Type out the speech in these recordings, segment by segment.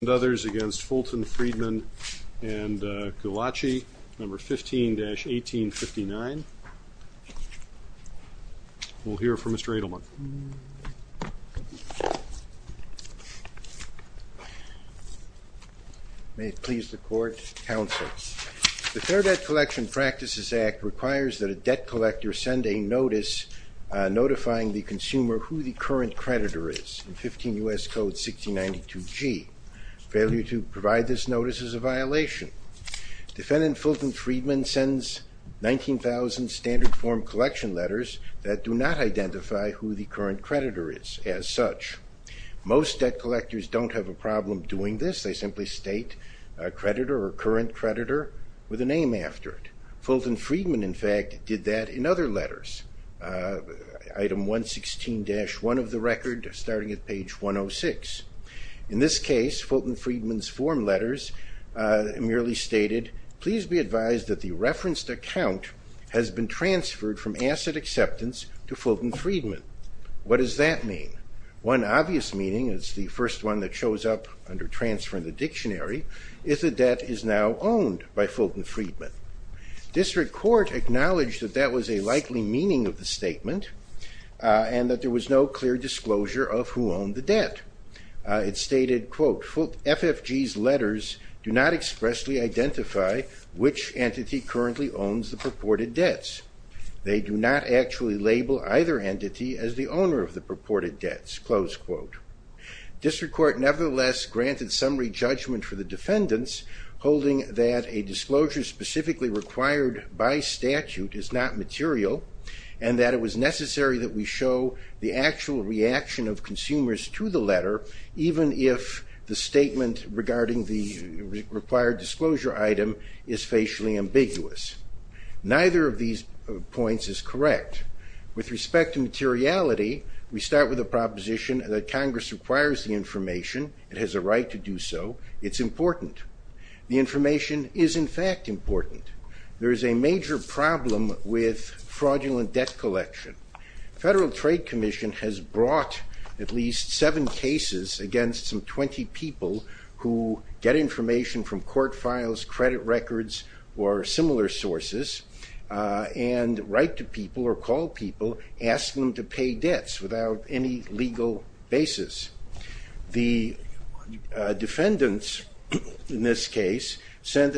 and others against Fulton Friedman & Gullace, No. 15-1859. We'll hear from Mr. Edelman. May it please the Court, Counsel. The Fair Debt Collection Practices Act requires that a debt collector send a notice notifying the consumer who the current creditor is in 15 U.S. Code 1692G. Failure to provide this notice is a violation. Defendant Fulton Friedman sends 19,000 standard form collection letters that do not identify who the current creditor is as such. Most debt collectors don't have a problem doing this. They simply state a creditor or current creditor with a name after it. Fulton Friedman in fact did that in other letters. Item 116-1 of the record starting at page 106. In this case, Fulton Friedman's form letters merely stated, please be advised that the referenced account has been transferred from asset acceptance to Fulton Friedman. What does that mean? One obvious meaning, it's the first one that shows up under transfer in the dictionary, is the debt is now owned by Fulton Friedman. District Court acknowledged that that was a clear disclosure of who owned the debt. It stated, quote, FFG's letters do not expressly identify which entity currently owns the purported debts. They do not actually label either entity as the owner of the purported debts, close quote. District Court nevertheless granted summary judgment for the defendants holding that a disclosure specifically required by statute is not material and that it was necessary that we show the actual reaction of consumers to the letter even if the statement regarding the required disclosure item is facially ambiguous. Neither of these points is correct. With respect to materiality, we start with a proposition that Congress requires the information, it has a right to do so, it's important. The information is in fact important. There is a fraudulent debt collection. Federal Trade Commission has brought at least seven cases against some 20 people who get information from court files, credit records, or similar sources and write to people or call people asking them to pay debts without any legal basis. The defendants in this had been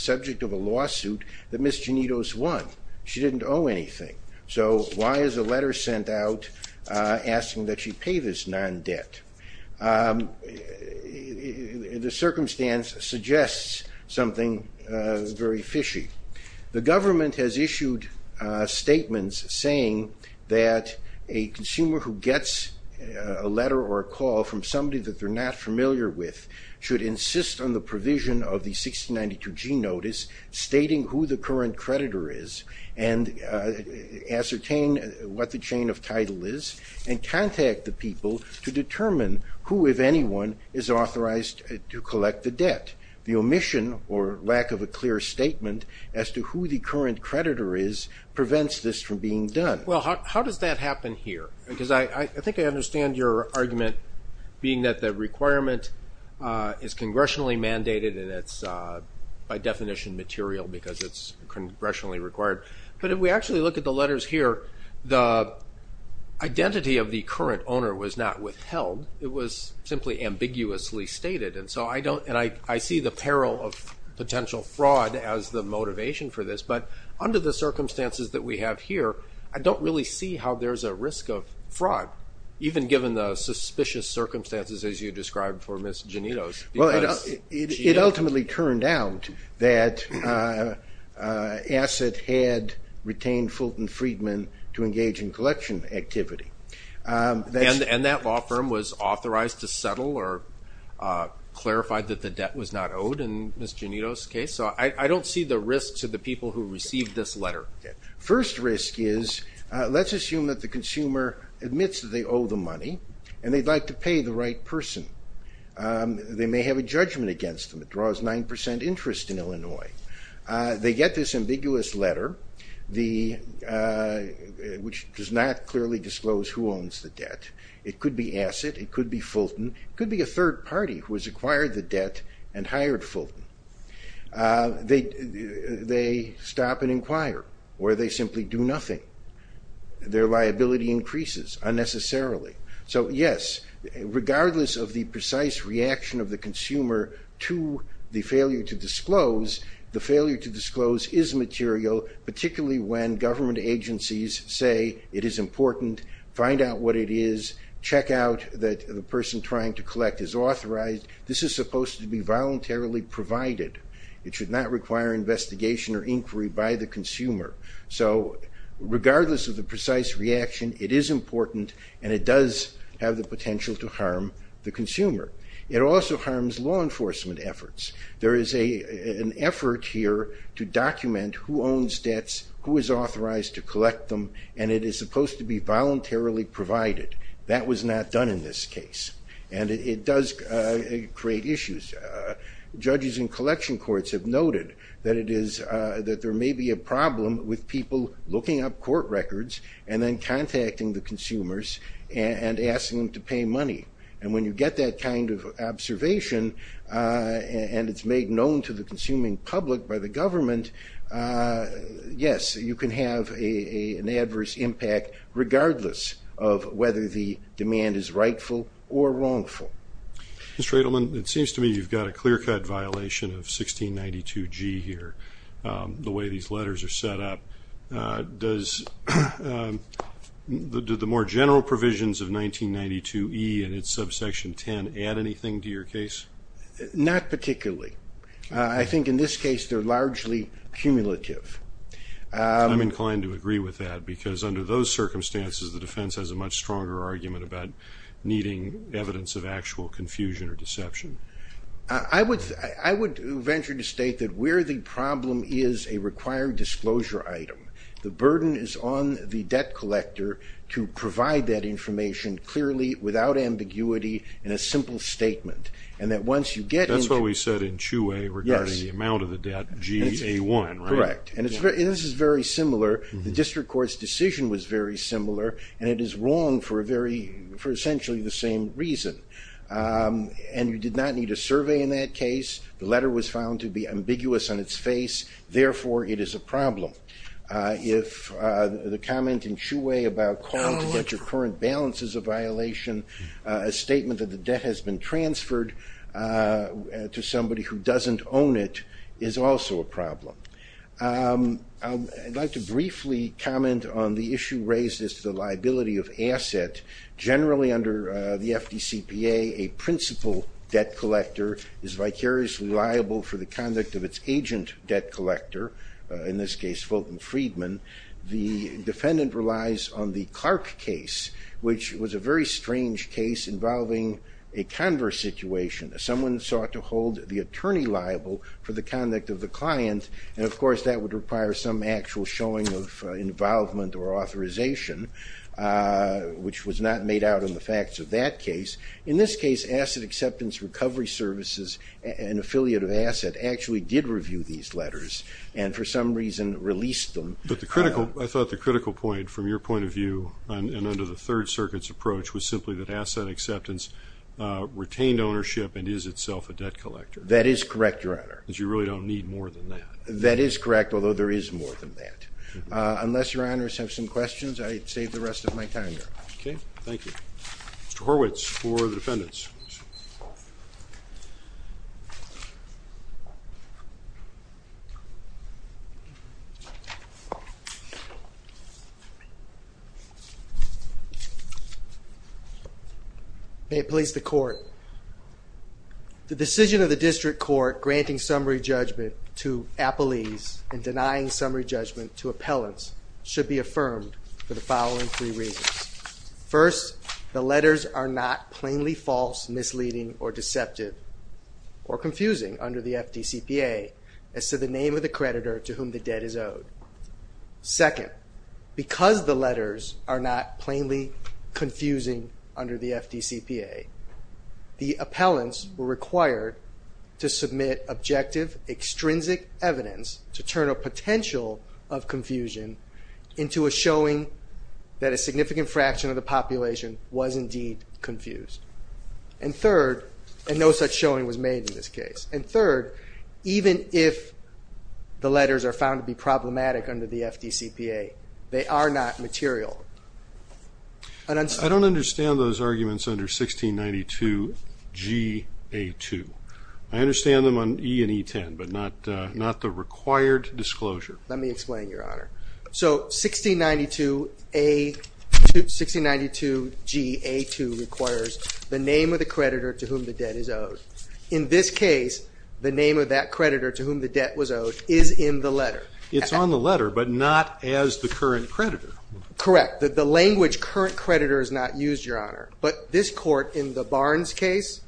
the subject of a lawsuit that Ms. Janitos won. She didn't owe anything, so why is a letter sent out asking that she pay this non-debt? The circumstance suggests something very fishy. The government has issued statements saying that a consumer who gets a letter or a call from somebody that they're not familiar with should insist on the provision of the 1692G notice stating who the current creditor is and ascertain what the chain of title is and contact the people to determine who, if anyone, is authorized to collect the debt. The omission or lack of a clear statement as to who the current creditor is prevents this from being done. Well, how does that happen here? Because I think I argument being that the requirement is congressionally mandated and it's by definition material because it's congressionally required. But if we actually look at the letters here, the identity of the current owner was not withheld. It was simply ambiguously stated. And so I don't, and I see the peril of potential fraud as the motivation for this, but under the circumstances that we have here, I don't really see how there's a risk of fraud, even given the suspicious circumstances as you described for Ms. Janitos. Well, it ultimately turned out that Asset had retained Fulton Friedman to engage in collection activity. And that law firm was authorized to settle or clarified that the debt was not owed in Ms. Janitos' case. So I don't see the risk to people who received this letter. First risk is, let's assume that the consumer admits that they owe the money and they'd like to pay the right person. They may have a judgment against them. It draws 9% interest in Illinois. They get this ambiguous letter, which does not clearly disclose who owns the debt. It could be Asset, it could be Fulton, it could be a third party who has acquired the debt and hired Fulton. They stop and inquire, or they simply do nothing. Their liability increases unnecessarily. So yes, regardless of the precise reaction of the consumer to the failure to disclose, the failure to disclose is material, particularly when government agencies say it is important, find out what it is, check out that the person trying to collect is authorized. This is supposed to be voluntarily provided. It should not require investigation or inquiry by the consumer. So regardless of the precise reaction, it is important and it does have the potential to harm the consumer. It also harms law enforcement efforts. There is an effort here to document who provided. That was not done in this case and it does create issues. Judges in collection courts have noted that it is, that there may be a problem with people looking up court records and then contacting the consumers and asking them to pay money. And when you get that kind of observation and it's made known to the consuming public by the government, yes, you can have an adverse impact regardless of whether the demand is rightful or wrongful. Mr. Edelman, it seems to me you've got a clear-cut violation of 1692G here, the way these letters are set up. Does the more general provisions of 1992E and its subsection 10 add anything to your case? Not particularly. I think in this case they're largely cumulative. I'm inclined to agree with that because under those circumstances, the defense has a much stronger argument about needing evidence of actual confusion or deception. I would venture to state that where the problem is a required disclosure item, the burden is on the debt collector to provide that information clearly, without ambiguity, in a simple statement. And that once you That's what we said in Chuway regarding the amount of the debt, GA1, right? Correct. And this is very similar. The district court's decision was very similar, and it is wrong for essentially the same reason. And you did not need a survey in that case. The letter was found to be ambiguous on its face. Therefore, it is a problem. If the comment in Chuway about calling to get your current balance is a violation, a statement that the debt has been transferred to somebody who doesn't own it is also a problem. I'd like to briefly comment on the issue raised as to the liability of asset. Generally under the FDCPA, a principal debt collector is vicariously liable for the conduct of its agent debt collector, in this case Fulton Friedman. The defendant relies on the Clark case, which was a very strange case involving a converse situation. Someone sought to hold the attorney liable for the conduct of the client, and of course that would require some actual showing of involvement or authorization, which was not made out in the facts of that case. In this case, Asset Acceptance Recovery Services, an affiliate of Asset, actually did review these letters and for some reason released them. But I thought the critical point, from your Third Circuit's approach, was simply that Asset Acceptance retained ownership and is itself a debt collector. That is correct, Your Honor. Because you really don't need more than that. That is correct, although there is more than that. Unless Your Honors have some questions, I'd save the rest of my time. Okay, thank you. Mr. Horwitz for the defendants. May it please the Court. The decision of the District Court granting summary judgment to appellees and denying summary judgment to appellants should be affirmed for the following three reasons. First, the letters are not plainly false, misleading, or deceptive, or confusing under the FDCPA, as to the name of the creditor to whom the debt is owed. Second, because the letters are not plainly confusing under the FDCPA, the appellants were required to submit objective, extrinsic evidence to turn a potential of confusion into a showing that a significant fraction of the population was indeed confused. And third, and no such showing was made in this case. And third, even if the letters are found to be problematic under the FDCPA, they are not material. I don't understand those arguments under 1692 G.A. 2. I understand them on E and E10, but not the required disclosure. Let me explain, Your Honor. So 1692 G.A. 2 requires the name of the creditor to whom the debt is owed. In this case, the name of that creditor to whom the debt was owed is in the letter. It's on the letter, but not as the current creditor. Correct. The language current creditor is not used, Your Honor. But this court, in the Barnes case,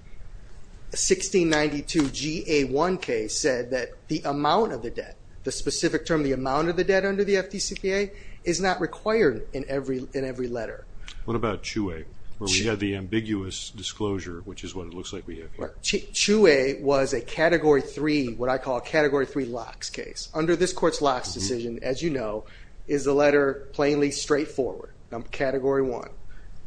1692 G.A. 1 case, said that the amount of the debt, the specific term, the amount of the debt under the FDCPA, is not required in every letter. What about Chouet, where we had the ambiguous disclosure, which is what it looks like we have here? Chouet was a Category 3, what I call Category 3 locks case. Under this court's locks decision, as you know, is the letter plainly straightforward, Category 1.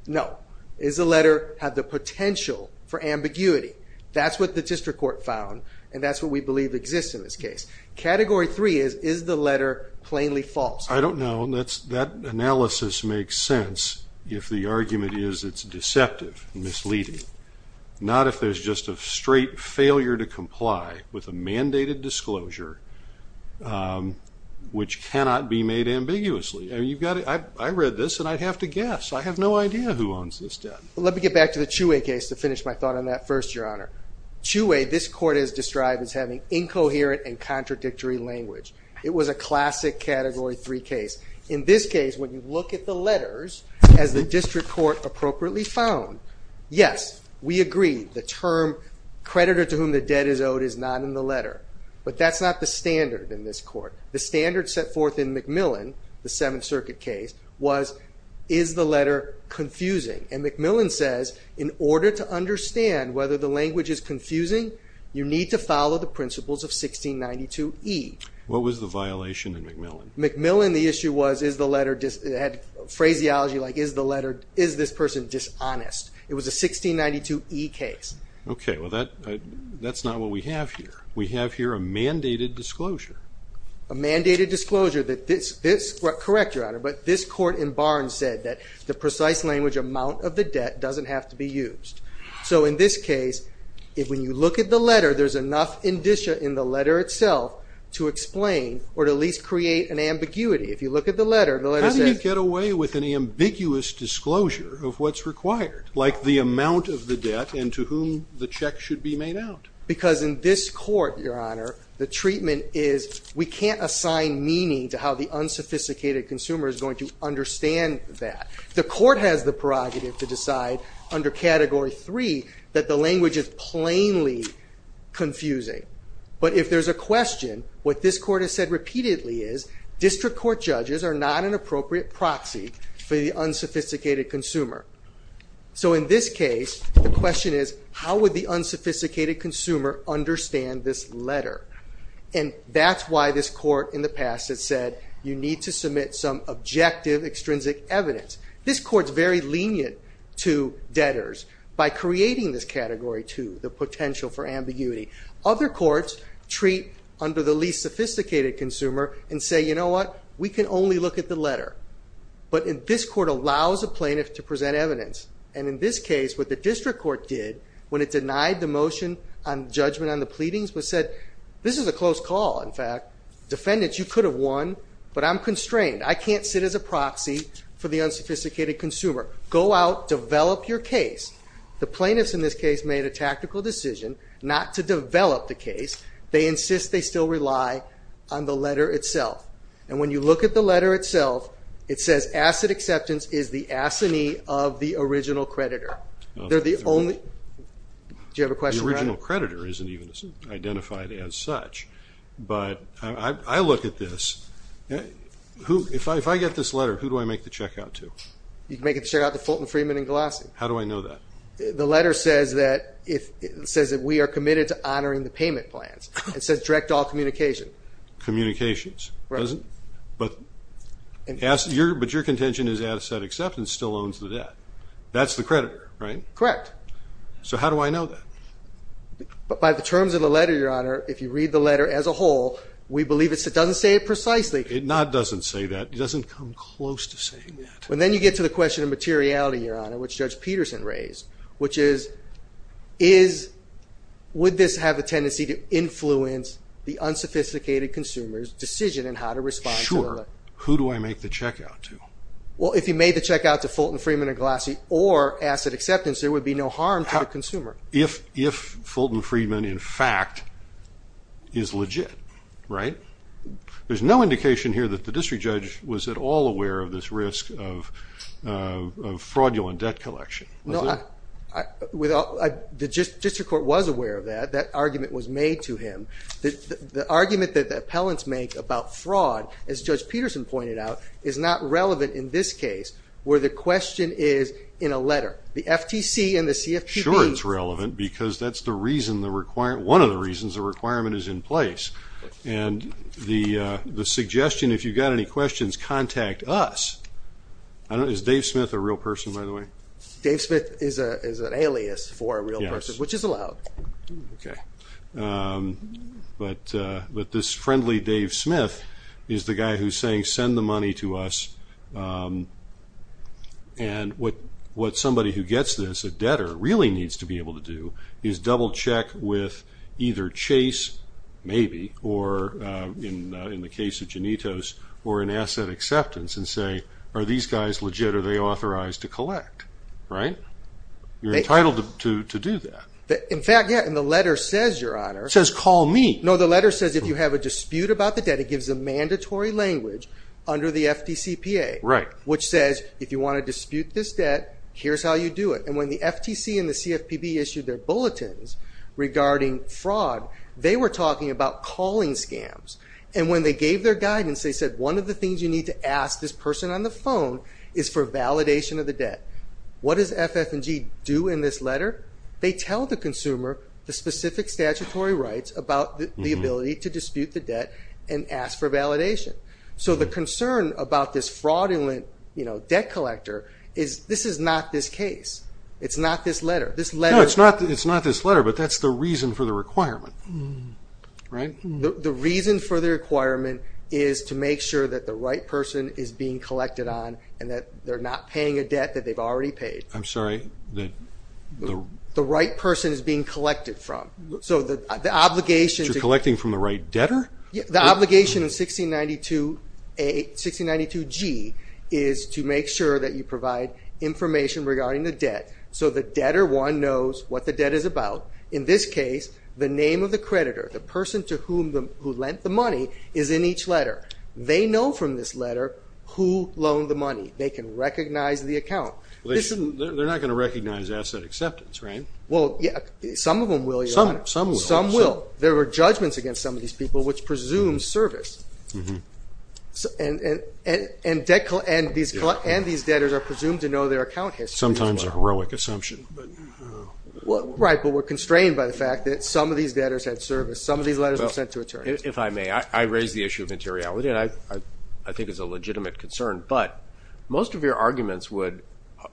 No. Does the letter have the potential for ambiguity? That's what the district court found, and that's what we believe exists in this case. Category 3 is, is the letter plainly false? I don't know. That analysis makes sense if the argument is it's deceptive, misleading. Not if there's just a straight failure to comply with a mandated disclosure, which cannot be made ambiguously. I read this, and I'd have to guess. I have no idea who owns this debt. Let me get back to the Chouet case to finish my thought on that first, Your Honor. Chouet, this court has described as having incoherent and contradictory language. It was a classic Category 3 case. In this case, when you look at the letters, as the district court appropriately found, yes, we agree the term creditor to whom the debt is owed is not in the letter, but that's not the standard in this court. The standard set forth in McMillan, the Seventh Circuit case, was, is the you need to follow the principles of 1692E. What was the violation in McMillan? McMillan, the issue was, had phraseology like, is this person dishonest? It was a 1692E case. Okay, well that's not what we have here. We have here a mandated disclosure. A mandated disclosure that this, correct Your Honor, but this court in Barnes said that the precise language amount of the debt doesn't have to be in the letter. There's enough indicia in the letter itself to explain or to at least create an ambiguity. If you look at the letter, the letter says... How do you get away with an ambiguous disclosure of what's required, like the amount of the debt and to whom the check should be made out? Because in this court, Your Honor, the treatment is we can't assign meaning to how the unsophisticated consumer is going to understand that. The court has the prerogative to decide under Category 3 that the confusing. But if there's a question, what this court has said repeatedly is, district court judges are not an appropriate proxy for the unsophisticated consumer. So in this case, the question is, how would the unsophisticated consumer understand this letter? And that's why this court in the past has said, you need to submit some objective extrinsic evidence. This court's very lenient to debtors by creating this Category 2, the potential for ambiguity. Other courts treat under the least sophisticated consumer and say, you know what? We can only look at the letter. But this court allows a plaintiff to present evidence. And in this case, what the district court did when it denied the motion on judgment on the pleadings was said, this is a close call, in fact. Defendants, you could have won, but I'm constrained. I can't sit as a proxy for the plaintiff. The plaintiffs in this case made a tactical decision not to develop the case. They insist they still rely on the letter itself. And when you look at the letter itself, it says asset acceptance is the assignee of the original creditor. Do you have a question? The original creditor isn't even identified as such. But I look at this. If I get this letter, who do I make the check out to? You can make the check out to Fulton, Freeman, and Galassi. How do I know that? The letter says that we are committed to honoring the payment plans. It says direct all communication. Communications, doesn't it? But your contention is asset acceptance still owns the debt. That's the creditor, right? Correct. So how do I know that? But by the terms of the letter, Your Honor, if you read the letter as a whole, we believe it doesn't say it precisely. It doesn't come close to saying that. And then you get to the question of materiality, Your Honor, which Judge Peterson raised, which is would this have a tendency to influence the unsophisticated consumer's decision in how to respond to the letter? Sure. Who do I make the check out to? Well, if you made the check out to Fulton, Freeman, and Galassi or asset acceptance, there would be no harm to the consumer. If Fulton, Freeman, in fact, is legit, right? There's no indication here that the district judge was at all aware of this risk of fraudulent debt collection. No, the district court was aware of that. That argument was made to him. The argument that the appellants make about fraud, as Judge Peterson pointed out, is not relevant in this case where the question is in a letter. The FTC and the CFPB. Sure, it's relevant because that's the reason, one of the reasons the requirement is in place. And the suggestion, if you've got any questions, contact us. Is Dave Smith a real person, by the way? Dave Smith is an alias for a real person, which is allowed. Okay. But this friendly Dave Smith is the guy who's saying send the money to us and what somebody who gets this, a debtor, really needs to be able to do is double check with either Chase, maybe, or in the case of Janitos, or in asset acceptance and say, are these guys legit? Are they authorized to collect? Right? You're entitled to do that. In fact, yeah, and the letter says, Your Honor. It says call me. No, the letter says if you have dispute about the debt, it gives a mandatory language under the FTCPA, which says if you want to dispute this debt, here's how you do it. And when the FTC and the CFPB issued their bulletins regarding fraud, they were talking about calling scams. And when they gave their guidance, they said one of the things you need to ask this person on the phone is for validation of the debt. What does FF&G do in this letter? They tell the consumer the specific statutory rights about the ability to dispute the debt and ask for validation. So the concern about this fraudulent debt collector is this is not this case. It's not this letter. No, it's not this letter, but that's the reason for the requirement. Right? The reason for the requirement is to make sure that the right person is being collected on and that they're not paying a debt that they've already collected from the right debtor. The obligation in 1692G is to make sure that you provide information regarding the debt so the debtor one knows what the debt is about. In this case, the name of the creditor, the person to whom who lent the money is in each letter. They know from this letter who loaned the money. They can recognize the account. They're not going to which presumes service. And these debtors are presumed to know their account history. Sometimes a heroic assumption. Right, but we're constrained by the fact that some of these debtors had service. Some of these letters were sent to attorneys. If I may, I raise the issue of materiality and I think it's a legitimate concern, but most of your arguments would,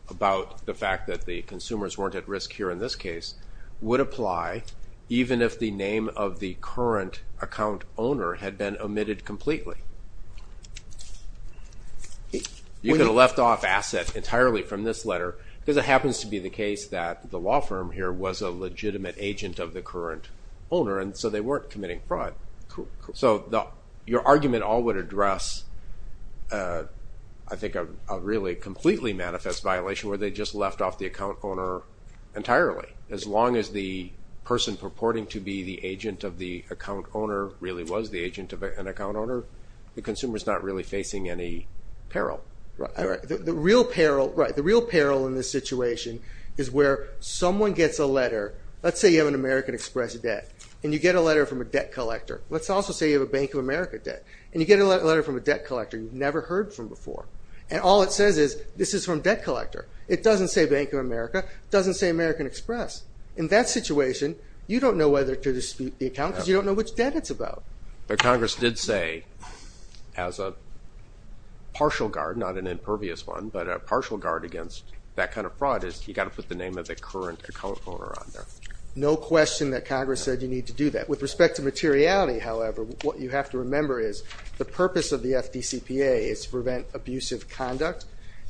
about the fact that the consumers weren't at risk here in this case, would apply even if the name of the current account owner had been omitted completely. You could have left off asset entirely from this letter because it happens to be the case that the law firm here was a legitimate agent of the current owner, and so they weren't committing fraud. So your argument all would address, I think, a really completely manifest violation where they just left off the account owner entirely. As long as the person purporting to be the agent of the account owner really was the agent of an account owner, the consumer's not really facing any peril. The real peril in this situation is where someone gets a letter, let's say you have an American Express debt, and you get a letter from a debt collector. Let's also say you have a Bank of America debt, and you get a letter from a debt collector you've never heard from before. And all it says is this is from debt collector. It doesn't say Bank of America, doesn't say American Express. In that situation, you don't know whether to dispute the account because you don't know which debt it's about. But Congress did say as a partial guard, not an impervious one, but a partial guard against that kind of fraud is you got to put the name of the current account owner on there. No question that Congress said you need to do that. With respect to materiality, however, what you have to remember is the purpose of the FDCPA is to prevent abusive conduct,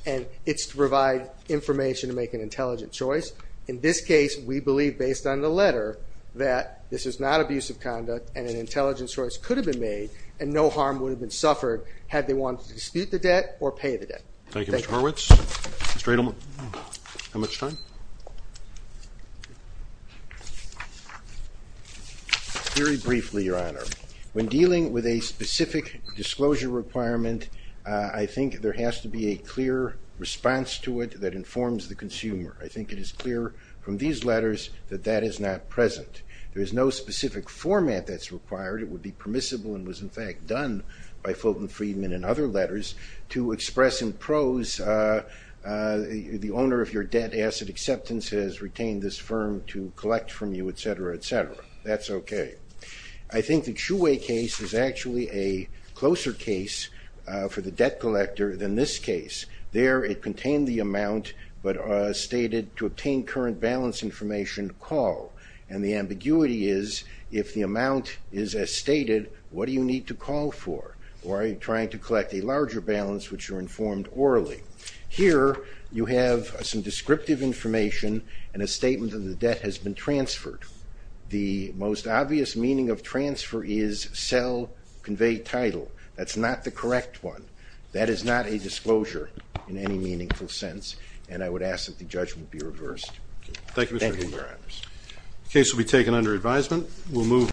and it's to provide information to make an intelligent choice. In this case, we believe based on the letter that this is not abusive conduct, and an intelligent choice could have been made, and no harm would have been suffered had they wanted to dispute the debt or pay the honor. When dealing with a specific disclosure requirement, I think there has to be a clear response to it that informs the consumer. I think it is clear from these letters that that is not present. There is no specific format that's required. It would be permissible and was, in fact, done by Fulton Friedman and other letters to express in prose the owner of your debt asset acceptance has retained this firm to collect from you, etc., etc. That's okay. I think the Chiu Wei case is actually a closer case for the debt collector than this case. There, it contained the amount but stated to obtain current balance information, call, and the ambiguity is if the amount is as stated, what do you need to call for? Why are you trying to collect a larger balance which you're informed orally? Here, you have some descriptive information and a meaning of transfer is sell, convey title. That's not the correct one. That is not a disclosure in any meaningful sense, and I would ask that the judgment be reversed. Thank you, Your Honors.